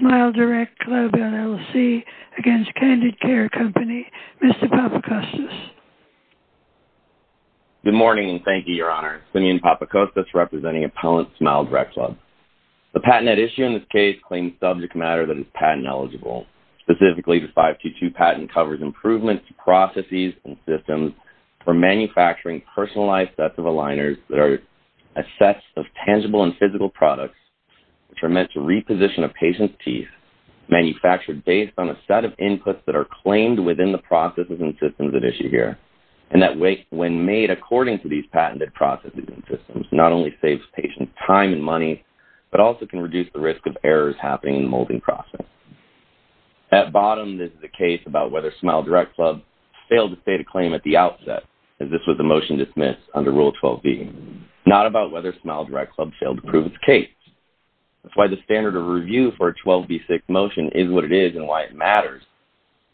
SmileDirectClub, LLC v. Candid Care Co., Mr. Papacostas. Good morning and thank you, Your Honor. Simeon Papacostas representing Appellant SmileDirectClub. The patent at issue in this case claims subject matter that is patent eligible. Specifically, the 522 patent covers improvements to processes and systems for manufacturing personalized sets of aligners that are a set of tangible and physical products which are meant to reposition a patient's teeth, manufactured based on a set of inputs that are claimed within the processes and systems at issue here, and that when made according to these patented processes and systems, not only saves patients time and money, but also can reduce the risk of errors happening in the molding process. At bottom, this is a case about whether SmileDirectClub failed to state a claim at the outset, as this was a motion dismissed under Rule 12b. Not about whether SmileDirectClub failed to prove its case. That's why the standard of review for a 12b6 motion is what it is and why it matters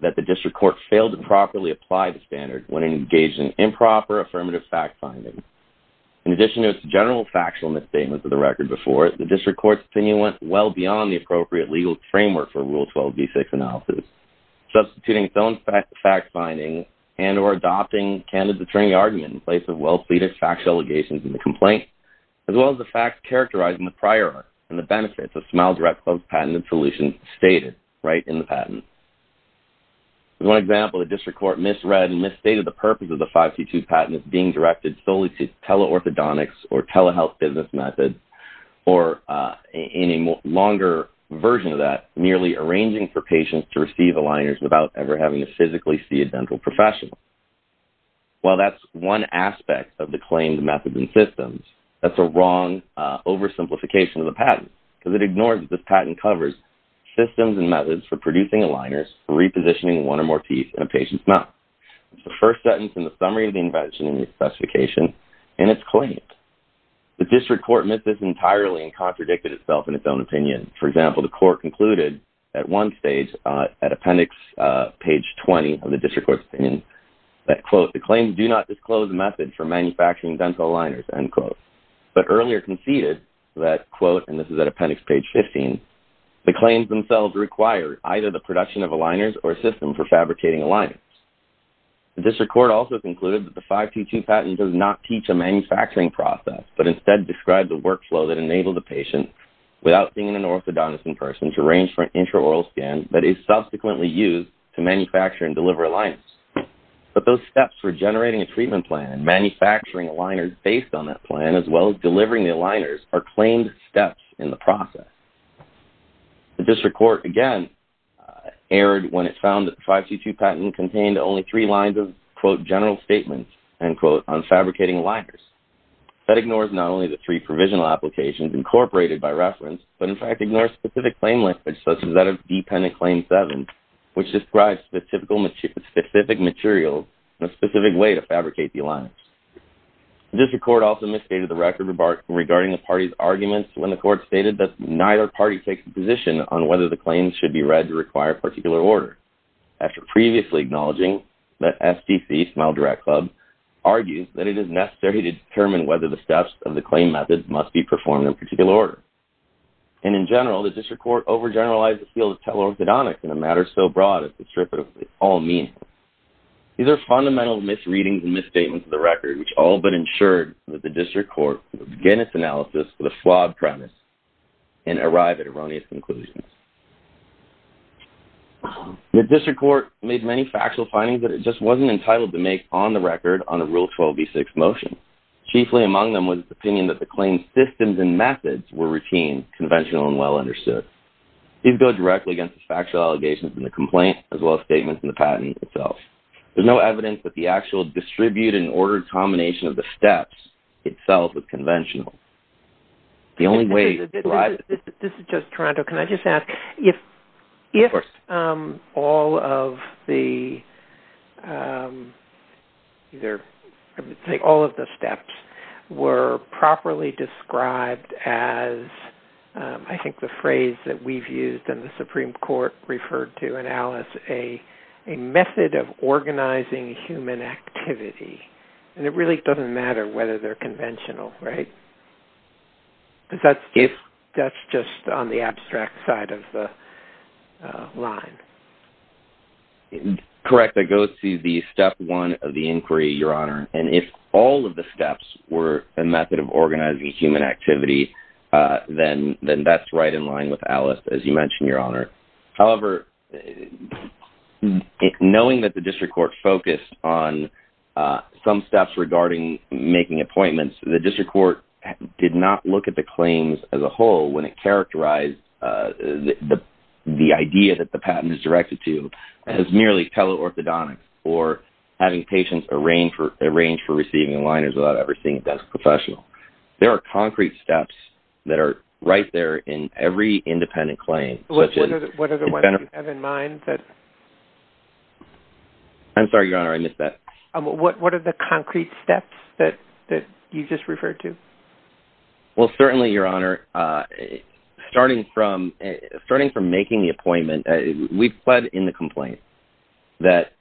that the district court failed to properly apply the standard when it engaged in improper affirmative fact-finding. In addition to its general factual misstatements of the record before it, the district court's opinion went well beyond the appropriate legal framework for Rule 12b6 analysis. Substituting its own fact-finding and or adopting Candid's attorney argument in place of well-pleaded factual allegations in the complaint, as well as the facts characterizing the prior art and the benefits of SmileDirectClub's patented solution stated right in the patent. As one example, the district court misread and misstated the purpose of the 5C2 patent as being directed solely to teleorthodontics or telehealth business methods, or in a longer version of that, merely arranging for patients to receive aligners without ever having to physically see a dental professional. While that's one aspect of the claimed methods and systems, that's a wrong oversimplification of the patent because it ignores that this patent covers systems and methods for producing aligners for repositioning one or more teeth in a patient's mouth. It's the first sentence in the summary of the invention in the specification and it's claimed. The district court missed this entirely and contradicted itself in its own opinion. For example, the court concluded at one stage at appendix page 20 of the district court's opinion that, quote, the claims do not disclose a method for manufacturing dental aligners, end quote. But earlier conceded that, quote, and this is at appendix page 15, the claims themselves require either the production of aligners or a system for fabricating aligners. The district court also concluded that the 5C2 patent does not teach a manufacturing process but instead describes a workflow that enables a patient without seeing an orthodontist in person to arrange for an intraoral scan that is subsequently used to manufacture and deliver aligners. But those steps for generating a treatment plan and manufacturing aligners based on that plan as well as delivering the aligners are claimed steps in the process. The district court again erred when it found that the 5C2 patent contained only three lines of, quote, general statements, end quote, on fabricating aligners. That ignores not only the three provisional applications incorporated by reference but in fact ignores specific claim language such as that of dependent claim seven which describes specific materials and a specific way to fabricate the aligners. The district court also misstated the record regarding the party's arguments when the court stated that neither party takes a position on whether the claims should be read to require a particular order. After previously acknowledging that SDC, Smile Direct Club, argues that it is necessary to determine whether the steps of the claim methods must be performed in a particular order. And in general, the district court overgeneralized the field of teleorthodontics in a matter so broad as to strip it of all meaning. These are fundamental misreadings and misstatements of the record which all but ensured that the district court would begin its analysis with a flawed premise and arrive at erroneous conclusions. The district court made many factual findings that it just wasn't entitled to make on the record on a Rule 12b6 motion. Chiefly among them was its opinion that the claim systems and methods were routine, conventional, and well understood. These go directly against the factual allegations in the complaint as well as statements in the patent itself. There's no evidence that the actual distribute and order combination of the steps itself was conventional. The only way to derive it... This is just Toronto. Can I just ask, if all of the steps were properly described as, I think the phrase that we've used and the Supreme Court referred to in Alice, a method of organizing human activity, and it really doesn't matter whether they're conventional, right? Because that's just on the abstract side of the line. Correct. That goes to the step one of the inquiry, Your Honor. And if all of the steps were a method of organizing human activity, then that's right in line with Alice, as you mentioned, Your Honor. However, knowing that the district court focused on some steps regarding making appointments, the district court did not look at the claims as a whole when it characterized the idea that the patent is directed to as merely teleorthodontics or having patients arrange for receiving aligners without ever seeing a desk professional. There are concrete steps that are right there in every independent claim. What are the ones you have in mind? I'm sorry, Your Honor, I missed that. What are the concrete steps that you just referred to? Well, certainly, Your Honor, starting from making the appointment, we've pled in the complaint that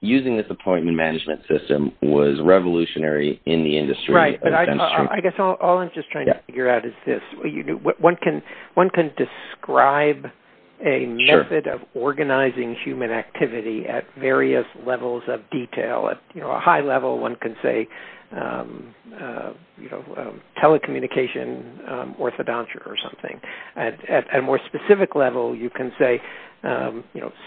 using this appointment management system was revolutionary in the industry. Right, but I guess all I'm just trying to figure out is this. One can describe a method of organizing human activity at various levels of detail. At a high level, one can say telecommunication orthodontic or something. At a more specific level, you can say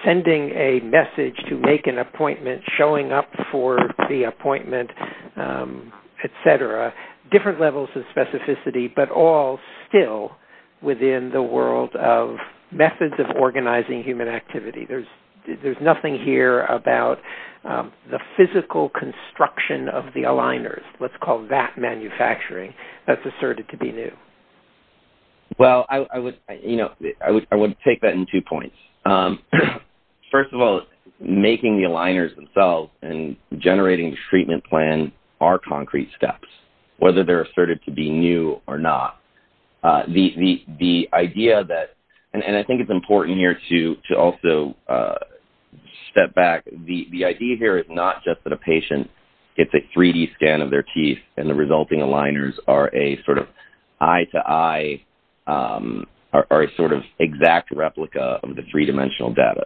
sending a message to make an appointment, showing up for the appointment, et cetera, different levels of specificity, but all still within the world of methods of organizing human activity. There's nothing here about the physical construction of the aligners. Let's call that manufacturing. That's asserted to be new. Well, I would take that in two points. First of all, making the aligners themselves and generating the treatment plan are concrete steps, whether they're asserted to be new or not. The idea that, and I think it's important here to also step back, the idea here is not just that a patient gets a 3D scan of their teeth and the resulting aligners are a sort of eye-to-eye or a sort of exact replica of the three-dimensional data.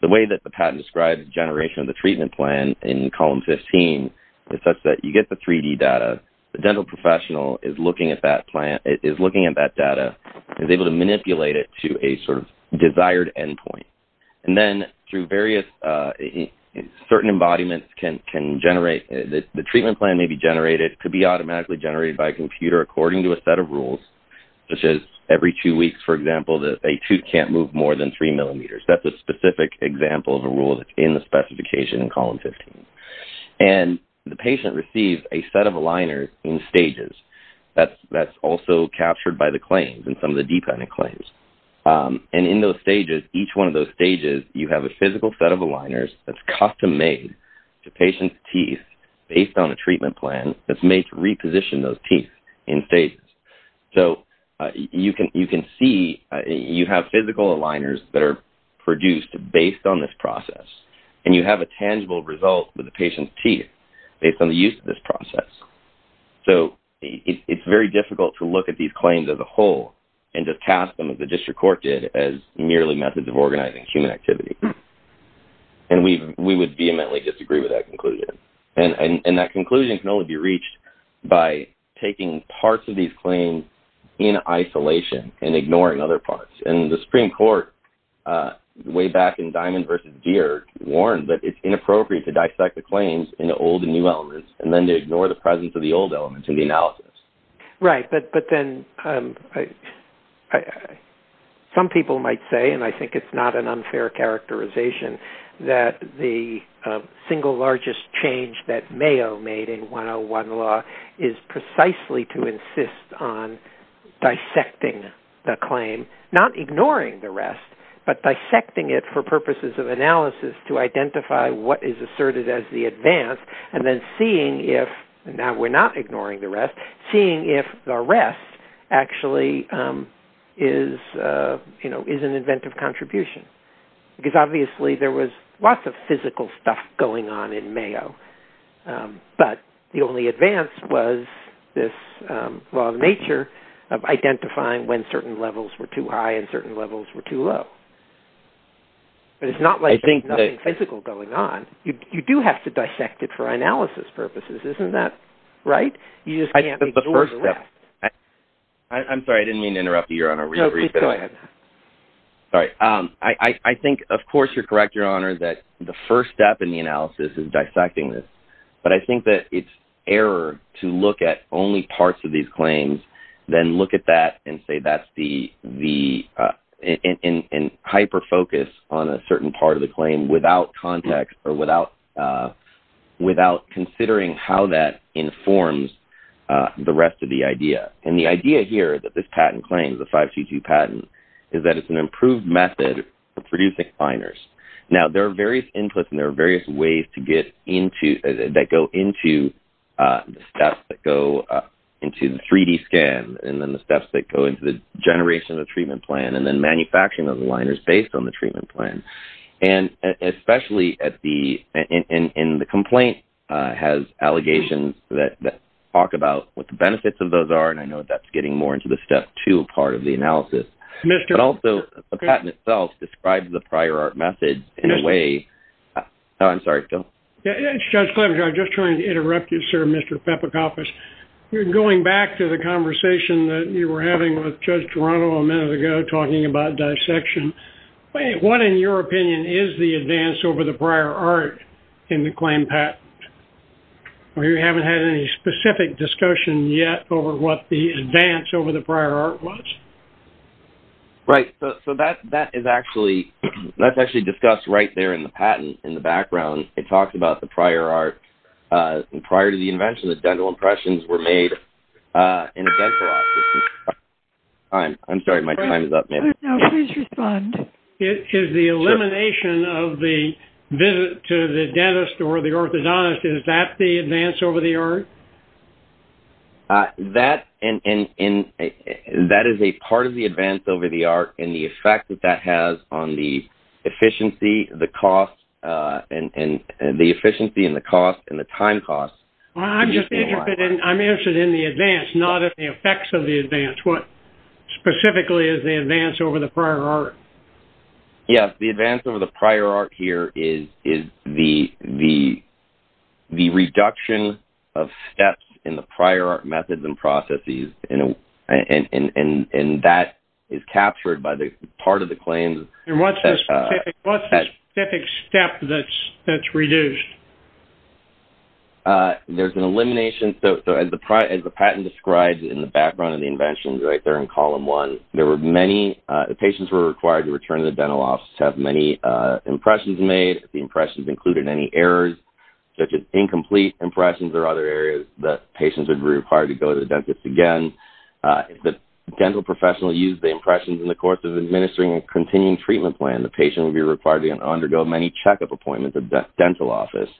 The way that the patent describes generation of the treatment plan in column 15 is such that you get the 3D data, the dental professional is looking at that data, is able to manipulate it to a sort of desired endpoint. Then through various certain embodiments can generate, the treatment plan may be generated, could be automatically generated by a computer according to a set of rules, such as every two weeks, for example, that a tooth can't move more than three millimeters. That's a specific example of a rule that's in the specification in column 15. The patient receives a set of aligners in stages. That's also captured by the claims and some of the dependent claims. In those stages, each one of those stages, you have a physical set of aligners that's custom-made to patient's teeth based on a treatment plan that's made to reposition those teeth in stages. You can see you have physical aligners that are produced based on this process, and you have a tangible result with the patient's teeth based on the use of this process. It's very difficult to look at these claims as a whole and just cast them, as the district court did, as merely methods of organizing human activity. We would vehemently disagree with that conclusion. That conclusion can only be reached by taking parts of these claims in isolation and ignoring other parts. The Supreme Court, way back in Diamond v. Deere, warned that it's inappropriate to dissect the claims into old and new elements and then to ignore the presence of the old elements in the analysis. Right, but then some people might say, and I think it's not an unfair characterization, that the single largest change that Mayo made in 101 law is precisely to insist on dissecting the claim, not ignoring the rest, but dissecting it for purposes of analysis to identify what is asserted as the advance and then seeing if, now we're not ignoring the rest, seeing if the rest actually is an inventive contribution. Because obviously there was lots of physical stuff going on in Mayo, but the only advance was this law of nature of identifying when certain levels were too high and certain levels were too low. But it's not like there's nothing physical going on. You do have to dissect it for analysis purposes, isn't that right? You just can't ignore the rest. I'm sorry, I didn't mean to interrupt you, Your Honor. No, please go ahead. Sorry. I think, of course, you're correct, Your Honor, that the first step in the analysis is dissecting this. But I think that it's error to look at only parts of these claims, then look at that and hyper-focus on a certain part of the claim without context or without considering how that informs the rest of the idea. And the idea here that this patent claims, the 522 patent, is that it's an improved method for producing liners. Now, there are various inputs and there are various ways to get into that go into the steps that go into the 3D scan and then the steps that go into the generation of the treatment plan and then manufacturing of the liners based on the treatment plan. And especially in the complaint, it has allegations that talk about what the benefits of those are, and I know that's getting more into the step two part of the analysis. But also, the patent itself describes the prior art method in a way. I'm sorry, Joe. It's Judge Clemens. I was just trying to interrupt you, sir, Mr. Pepikakis. Going back to the conversation that you were having with Judge Toronto a minute ago talking about dissection, what, in your opinion, is the advance over the prior art in the claim patent? Or you haven't had any specific discussion yet over what the advance over the prior art was? Right. So that is actually discussed right there in the patent in the background. It talks about the prior art. Prior to the invention, the dental impressions were made in a dental office. I'm sorry, my time is up. Please respond. Is the elimination of the visit to the dentist or the orthodontist, is that the advance over the art? That is a part of the advance over the art and the effect that that has on the efficiency and the cost and the time cost. I'm just interested in the advance, not in the effects of the advance. What specifically is the advance over the prior art? Yes, the advance over the prior art here is the reduction of steps in the prior art methods and processes, and that is captured by part of the claim. And what's the specific step that's reduced? There's an elimination. So as the patent describes in the background of the invention right there in column one, there were many patients who were required to return to the dental office to have many impressions made. The impressions included any errors such as incomplete impressions or other areas that patients would be required to go to the dentist again. If the dental professional used the impressions in the course of administering a continuing treatment plan, the patient would be required to undergo many checkup appointments at the dental office.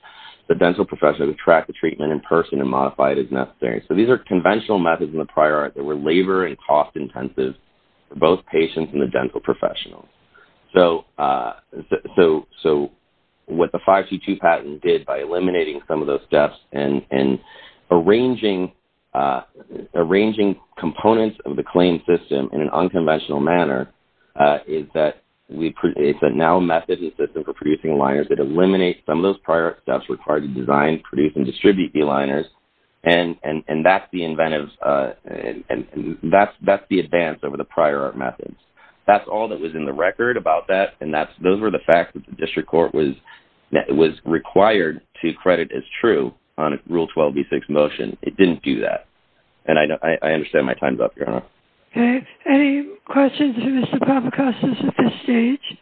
The dental professional would track the treatment in person and modify it as necessary. So these are conventional methods in the prior art that were labor and cost intensive for both patients and the dental professionals. So what the 5C2 patent did by eliminating some of those steps and arranging components of the claim system in an unconventional manner is that it's a now method and system for producing aligners. It eliminates some of those prior steps required to design, produce, and distribute the aligners, and that's the advance over the prior art methods. That's all that was in the record about that, and those were the facts that the district court was required to credit as true on Rule 12b6 motion. It didn't do that, and I understand my time's up, Your Honor. Okay. Any questions for Mr. Papacostas at this stage?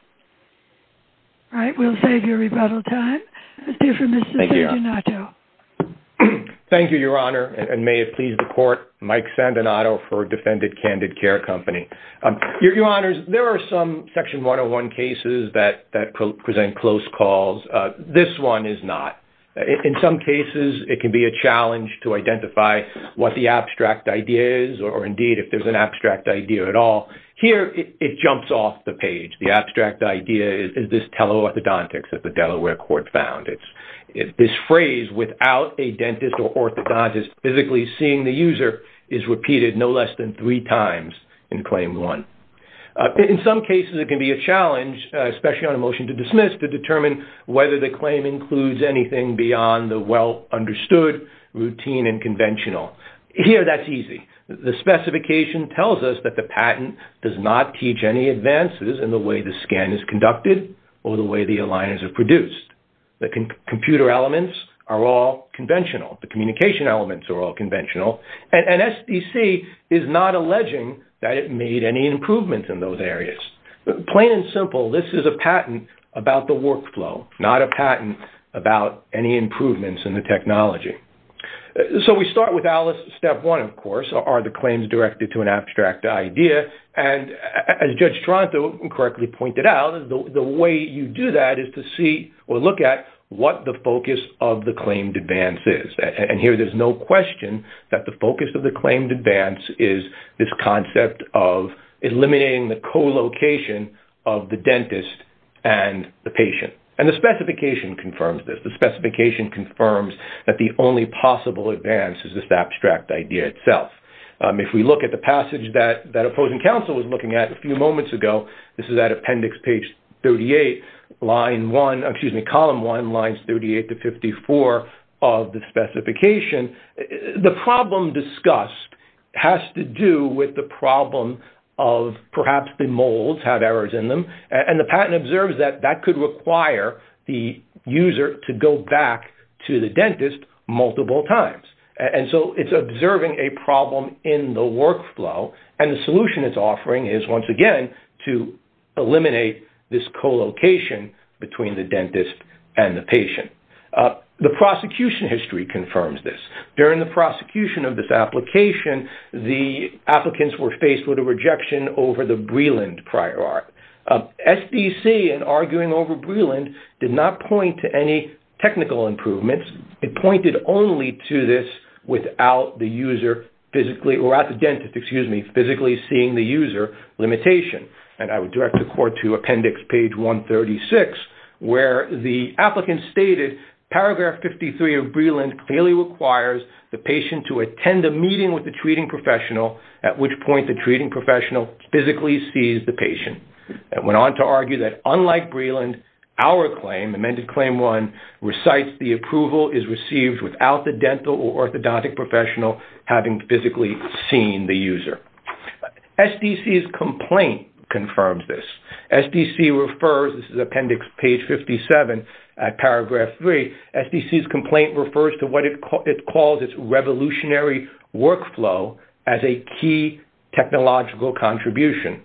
All right, we'll save your rebuttal time. Let's hear from Mr. Sandinato. Thank you, Your Honor, and may it please the court, Mike Sandinato for Defendant Candid Care Company. Your Honors, there are some Section 101 cases that present close calls. This one is not. In some cases, it can be a challenge to identify what the abstract idea is or, indeed, if there's an abstract idea at all. Here, it jumps off the page. The abstract idea is this teleorthodontics that the Delaware court found. This phrase, without a dentist or orthodontist physically seeing the user, is repeated no less than three times in Claim 1. In some cases, it can be a challenge, especially on a motion to dismiss, to determine whether the claim includes anything beyond the well-understood, routine, and conventional. Here, that's easy. The specification tells us that the patent does not teach any advances in the way the scan is conducted or the way the aligners are produced. The computer elements are all conventional. The communication elements are all conventional. And SDC is not alleging that it made any improvements in those areas. Plain and simple, this is a patent about the workflow, not a patent about any improvements in the technology. So we start with Alice, Step 1, of course, are the claims directed to an abstract idea? And as Judge Toronto correctly pointed out, the way you do that is to see or look at what the focus of the claimed advance is. And here, there's no question that the focus of the claimed advance is this concept of eliminating the co-location of the dentist and the patient. And the specification confirms this. The specification confirms that the only possible advance is this abstract idea itself. If we look at the passage that opposing counsel was looking at a few moments ago, this is at appendix page 38, line 1, excuse me, column 1, lines 38 to 54 of the specification, the problem discussed has to do with the problem of perhaps the molds have errors in them. And the patent observes that that could require the user to go back to the dentist multiple times. And so it's observing a problem in the workflow. And the solution it's offering is, once again, to eliminate this co-location between the dentist and the patient. The prosecution history confirms this. During the prosecution of this application, the applicants were faced with a rejection over the Breland prior art. SBC, in arguing over Breland, did not point to any technical improvements. It pointed only to this without the user physically or at the dentist, excuse me, physically seeing the user limitation. And I would direct the court to appendix page 136, where the applicant stated, paragraph 53 of Breland clearly requires the patient to attend a meeting with the treating professional, at which point the treating professional physically sees the patient. It went on to argue that, unlike Breland, our claim, amended claim 1, recites the approval is received without the dental or orthodontic professional having physically seen the user. SDC's complaint confirms this. SDC refers, this is appendix page 57 at paragraph 3, SDC's complaint refers to what it calls its revolutionary workflow as a key technological contribution.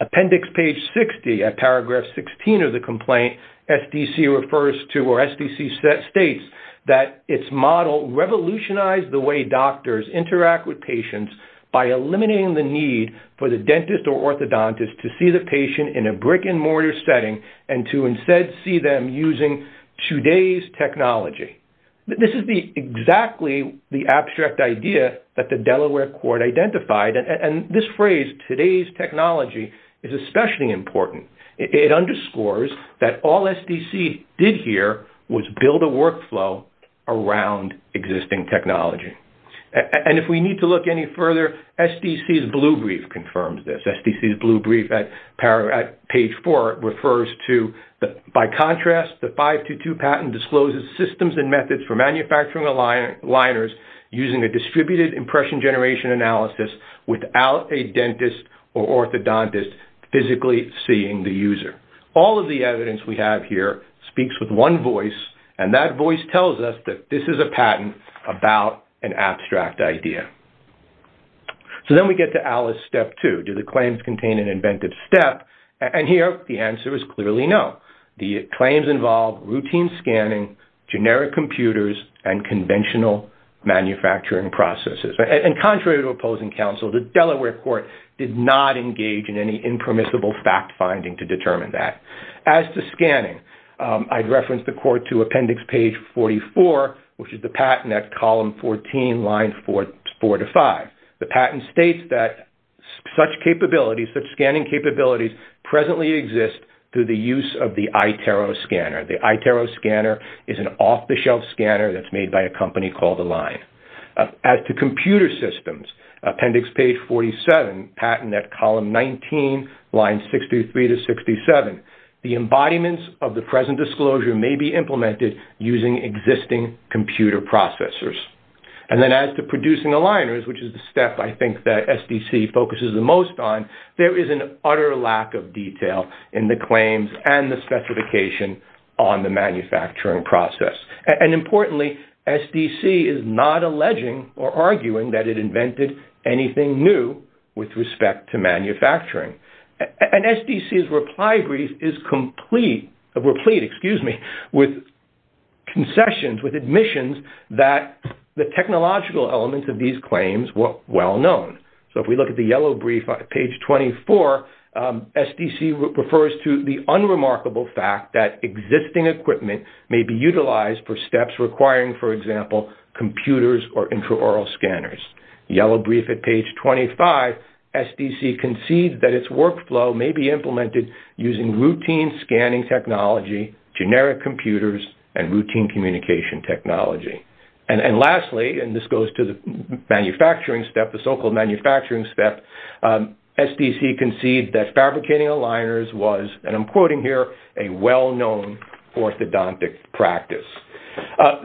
Appendix page 60 at paragraph 16 of the complaint, SDC refers to, or SDC states that its model revolutionized the way doctors interact with patients by eliminating the need for the dentist or orthodontist to see the patient in a brick-and-mortar setting and to instead see them using today's technology. This is exactly the abstract idea that the Delaware court identified, and this phrase, today's technology, is especially important. It underscores that all SDC did here was build a workflow around existing technology. If we need to look any further, SDC's blue brief confirms this. SDC's blue brief at page 4 refers to, by contrast, the 522 patent discloses systems and methods for manufacturing aligners using a distributed impression generation analysis without a dentist or orthodontist physically seeing the user. All of the evidence we have here speaks with one voice, and that voice tells us that this is a patent about an abstract idea. So then we get to ALICE Step 2. Do the claims contain an invented step? And here, the answer is clearly no. The claims involve routine scanning, generic computers, and conventional manufacturing processes. And contrary to opposing counsel, the Delaware court did not engage in any impermissible fact-finding to determine that. As to scanning, I'd reference the court to appendix page 44, which is the patent at column 14, lines 4 to 5. The patent states that such scanning capabilities presently exist through the use of the iTero scanner. The iTero scanner is an off-the-shelf scanner that's made by a company called Align. As to computer systems, appendix page 47, patent at column 19, lines 63 to 67, the embodiments of the present disclosure may be implemented using existing computer processors. And then as to producing aligners, which is the step I think that SDC focuses the most on, there is an utter lack of detail in the claims and the specification on the manufacturing process. And importantly, SDC is not alleging or arguing that it invented anything new with respect to manufacturing. And SDC's reply brief is complete with concessions, with admissions, that the technological elements of these claims were well known. So if we look at the yellow brief at page 24, SDC refers to the unremarkable fact that existing equipment may be utilized for steps requiring, for example, computers or intraoral scanners. Yellow brief at page 25, SDC concedes that its workflow may be implemented using routine scanning technology, generic computers, and routine communication technology. And lastly, and this goes to the manufacturing step, the so-called manufacturing step, SDC concedes that fabricating aligners was, and I'm quoting here, a well-known orthodontic practice.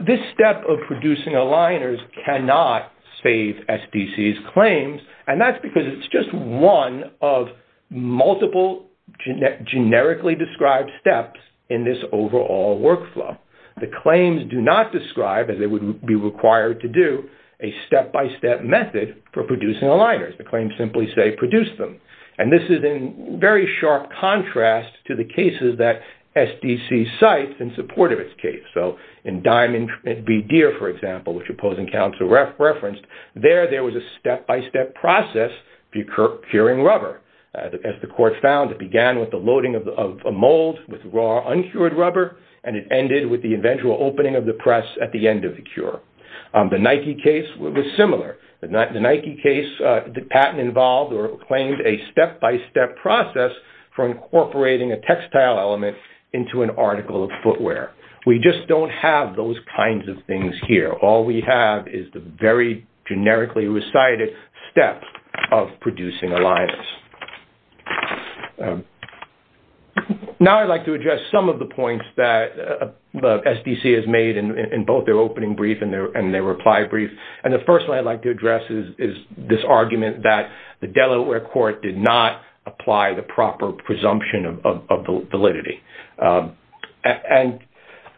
This step of producing aligners cannot save SDC's claims, and that's because it's just one of multiple generically described steps in this overall workflow. The claims do not describe, as they would be required to do, a step-by-step method for producing aligners. The claims simply say, produce them. And this is in very sharp contrast to the cases that SDC cites in support of its case. So in Diamond v. Deere, for example, which opposing counsel referenced, there there was a step-by-step process for curing rubber. As the court found, it began with the loading of a mold with raw, uncured rubber, and it ended with the eventual opening of the press at the end of the cure. The Nike case was similar. The Nike case, the patent involved or claimed a step-by-step process for incorporating a textile element into an article of footwear. We just don't have those kinds of things here. All we have is the very generically recited step of producing aligners. Now I'd like to address some of the points that SDC has made in both their opening brief and their reply brief. And the first one I'd like to address is this argument that the Delaware court did not apply the proper presumption of validity. And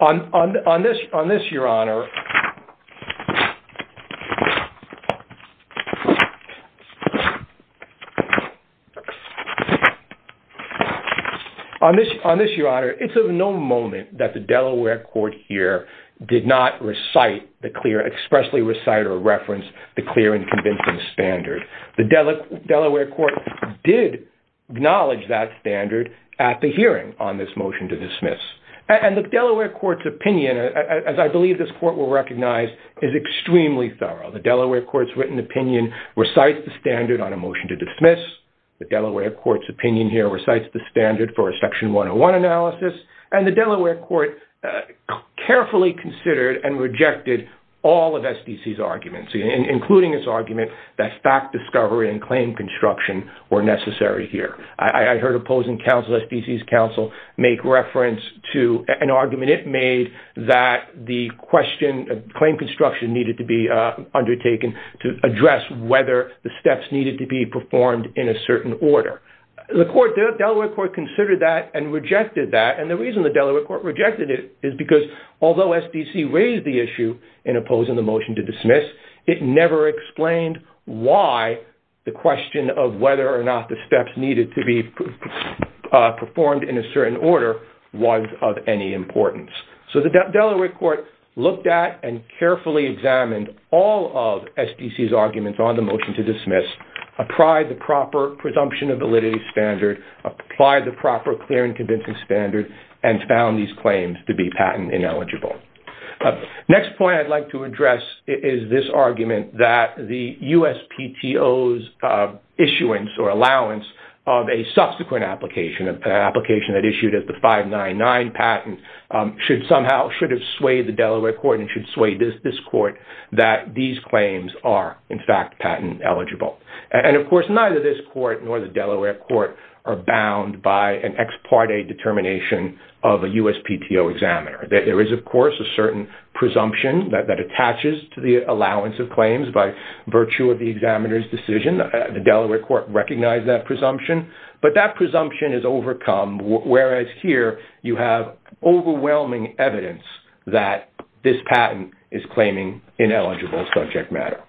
on this, Your Honor, it's of no moment that the Delaware court here did not expressly recite or reference the clear and convincing standard. The Delaware court did acknowledge that standard at the hearing on this motion to dismiss. And the Delaware court's opinion, as I believe this court will recognize, is extremely thorough. The Delaware court's written opinion recites the standard on a motion to dismiss. The Delaware court's opinion here recites the standard for a section 101 analysis. And the Delaware court carefully considered and rejected all of SDC's arguments, including its argument that fact discovery and claim construction were necessary here. I heard opposing counsel, SDC's counsel, make reference to an argument it made that the claim construction needed to be undertaken to address whether the steps needed to be performed in a certain order. The Delaware court considered that and rejected that. And the reason the Delaware court rejected it is because although SDC raised the issue in opposing the motion to dismiss, it never explained why the question of whether or not the steps needed to be performed in a certain order was of any importance. So the Delaware court looked at and carefully examined all of SDC's arguments on the motion to dismiss, applied the proper presumption of validity standard, applied the proper clear and convincing standard, and found these claims to be patent ineligible. Next point I'd like to address is this argument that the USPTO's issuance or allowance of a subsequent application, an application that issued as the 599 patent, should somehow, should have swayed the Delaware court and should sway this court that these claims are in fact patent eligible. And of course neither this court nor the Delaware court are bound by an ex parte determination of a USPTO examiner. There is of course a certain presumption that attaches to the allowance of claims by virtue of the examiner's decision. The Delaware court recognized that presumption. But that presumption is overcome whereas here you have overwhelming evidence that this patent is claiming ineligible subject matter.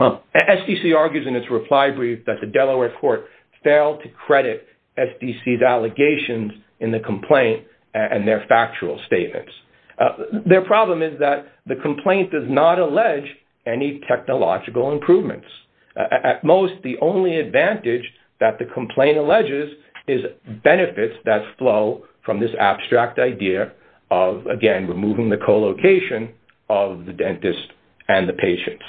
SDC argues in its reply brief that the Delaware court failed to credit SDC's allegations in the complaint and their factual statements. Their problem is that the complaint does not allege any technological improvements. At most the only advantage that the complaint alleges is benefits that flow from this abstract idea of, again, removing the co-location of the dentist and the patients.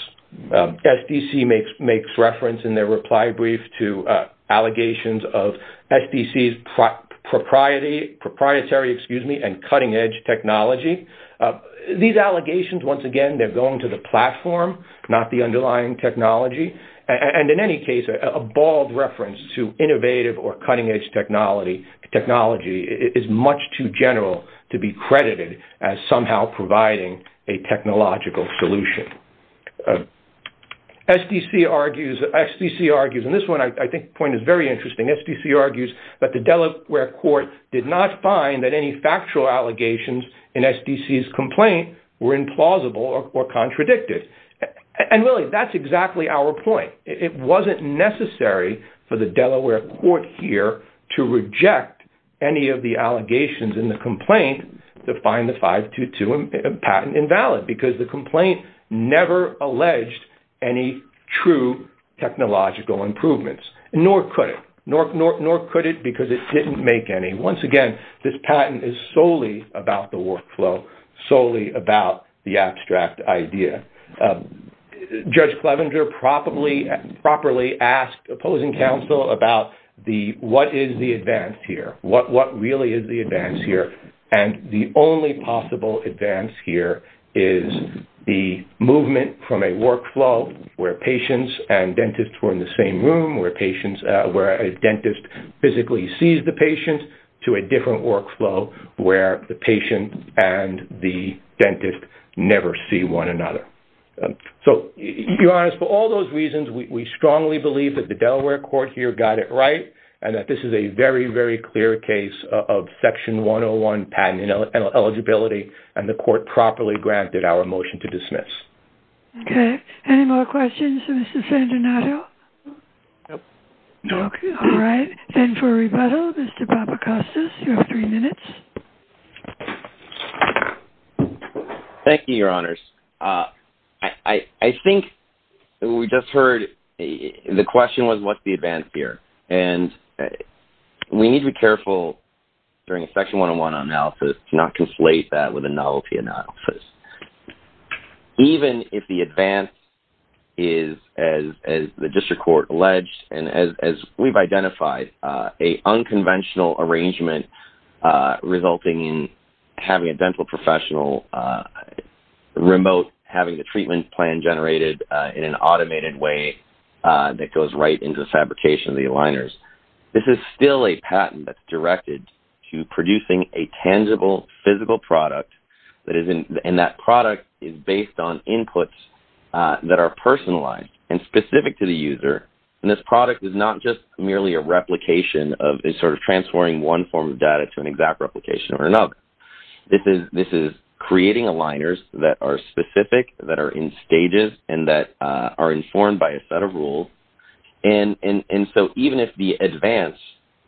SDC makes reference in their reply brief to allegations of SDC's proprietary and cutting edge technology. These allegations, once again, they're going to the platform, not the underlying technology. And in any case a bald reference to innovative or cutting edge technology is much too general to be credited as somehow providing a technological solution. SDC argues in this one I think the point is very interesting. SDC argues that the Delaware court did not find that any factual allegations in SDC's complaint were implausible or contradicted. And really that's exactly our point. It wasn't necessary for the Delaware court here to reject any of the allegations in the complaint to find the 522 patent invalid because the complaint never alleged any true technological improvements. Nor could it. Nor could it because it didn't make any. Once again, this patent is solely about the workflow, solely about the abstract idea. Judge Clevenger properly asked opposing counsel about what is the advance here? What really is the advance here? And the only possible advance here is the movement from a workflow where patients and dentists were in the same room, where a dentist physically sees the patient, to a different workflow where the patient and the dentist never see one another. So to be honest, for all those reasons, we strongly believe that the Delaware court here got it right and that this is a very, very clear case of Section 101 patent eligibility and the court properly granted our motion to dismiss. Okay. Any more questions for Mr. Fandanato? No. Okay. All right. And for rebuttal, Mr. Papacostas, you have three minutes. Thank you, Your Honors. I think we just heard the question was, what's the advance here? And we need to be careful during a Section 101 analysis to not conflate that with a novelty analysis. Even if the advance is, as the district court alleged and as we've identified, a unconventional arrangement resulting in having a dental professional remote, having the treatment plan generated in an automated way that goes right into the fabrication of the aligners. This is still a patent that's directed to producing a tangible, physical product, and that product is based on inputs that are personalized and specific to the user. And this product is not just merely a replication of a sort of transferring one form of data to an exact replication or another. This is creating aligners that are specific, that are in stages, and that are informed by a set of rules. And so even if the advance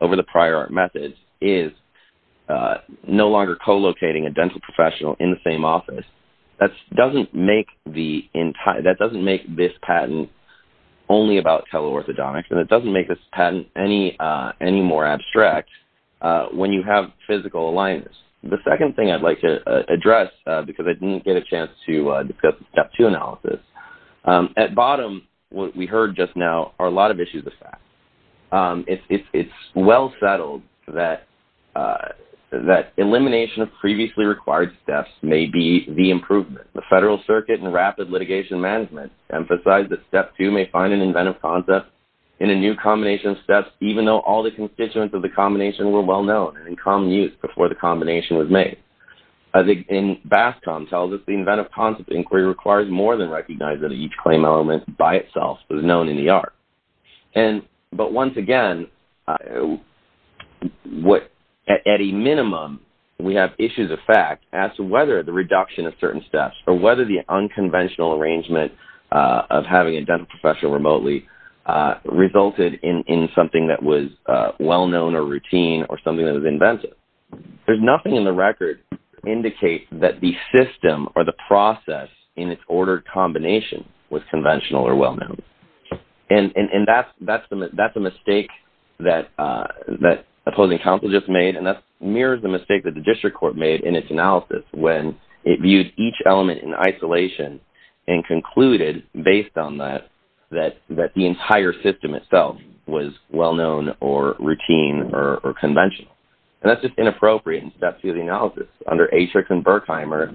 over the prior methods is no longer co-locating a dental professional in the same office, that doesn't make this patent only about teleorthodontics, and it doesn't make this patent any more abstract when you have physical aligners. The second thing I'd like to address, because I didn't get a chance to discuss the Step 2 analysis, at bottom, what we heard just now, are a lot of issues of fact. It's well settled that elimination of previously required steps may be the improvement. The Federal Circuit and Rapid Litigation Management emphasize that Step 2 may find an inventive concept in a new combination of steps, even though all the constituents of the combination were well known and in common use before the combination was made. And BASCOM tells us the inventive concept inquiry requires more than recognizing that each claim element by itself was known in the art. But once again, at a minimum, we have issues of fact as to whether the reduction of certain steps, or whether the unconventional arrangement of having a dental professional remotely, resulted in something that was well known or routine or something that was inventive. There's nothing in the record that indicates that the system or the process in its ordered combination was conventional or well known. And that's a mistake that opposing counsel just made, and that mirrors the mistake that the District Court made in its analysis when it viewed each element in isolation and concluded, based on that, that the entire system itself was well known or routine or conventional. And that's just inappropriate in Step 2 of the analysis. Under Atrix and Berkheimer,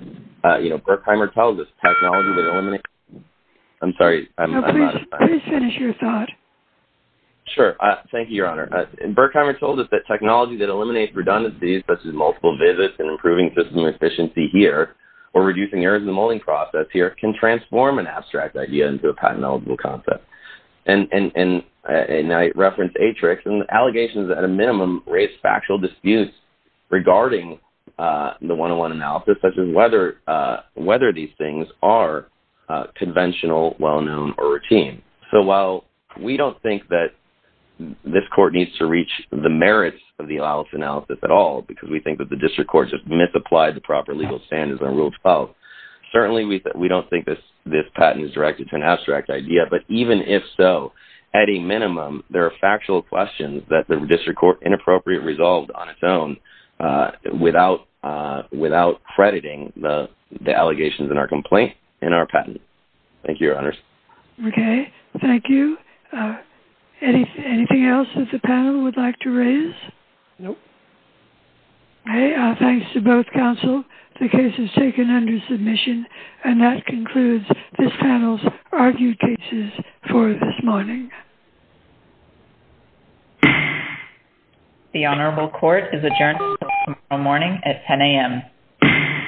you know, Berkheimer tells us technology that eliminates redundancies, I'm sorry, I'm out of time. No, please finish your thought. Sure. Thank you, Your Honor. And Berkheimer told us that technology that eliminates redundancies, such as multiple visits and improving system efficiency here, or reducing errors in the molding process here, can transform an abstract idea into a patent-eligible concept. And I referenced Atrix, and the allegations at a minimum raise factual disputes regarding the 101 analysis, such as whether these things are conventional, well known, or routine. So while we don't think that this court needs to reach the merits of the analysis at all, because we think that the District Court just misapplied the proper legal standards and ruled it out, certainly we don't think this patent is directed to an abstract idea, but even if so, at a minimum, there are factual questions that the District Court inappropriately resolved on its own, without crediting the allegations in our complaint, in our patent. Thank you, Your Honors. Okay. Thank you. Anything else that the panel would like to raise? No. Okay. Thanks to both counsel. The case is taken under submission. And that concludes this panel's argued cases for this morning. The Honorable Court is adjourned until tomorrow morning at 10 a.m.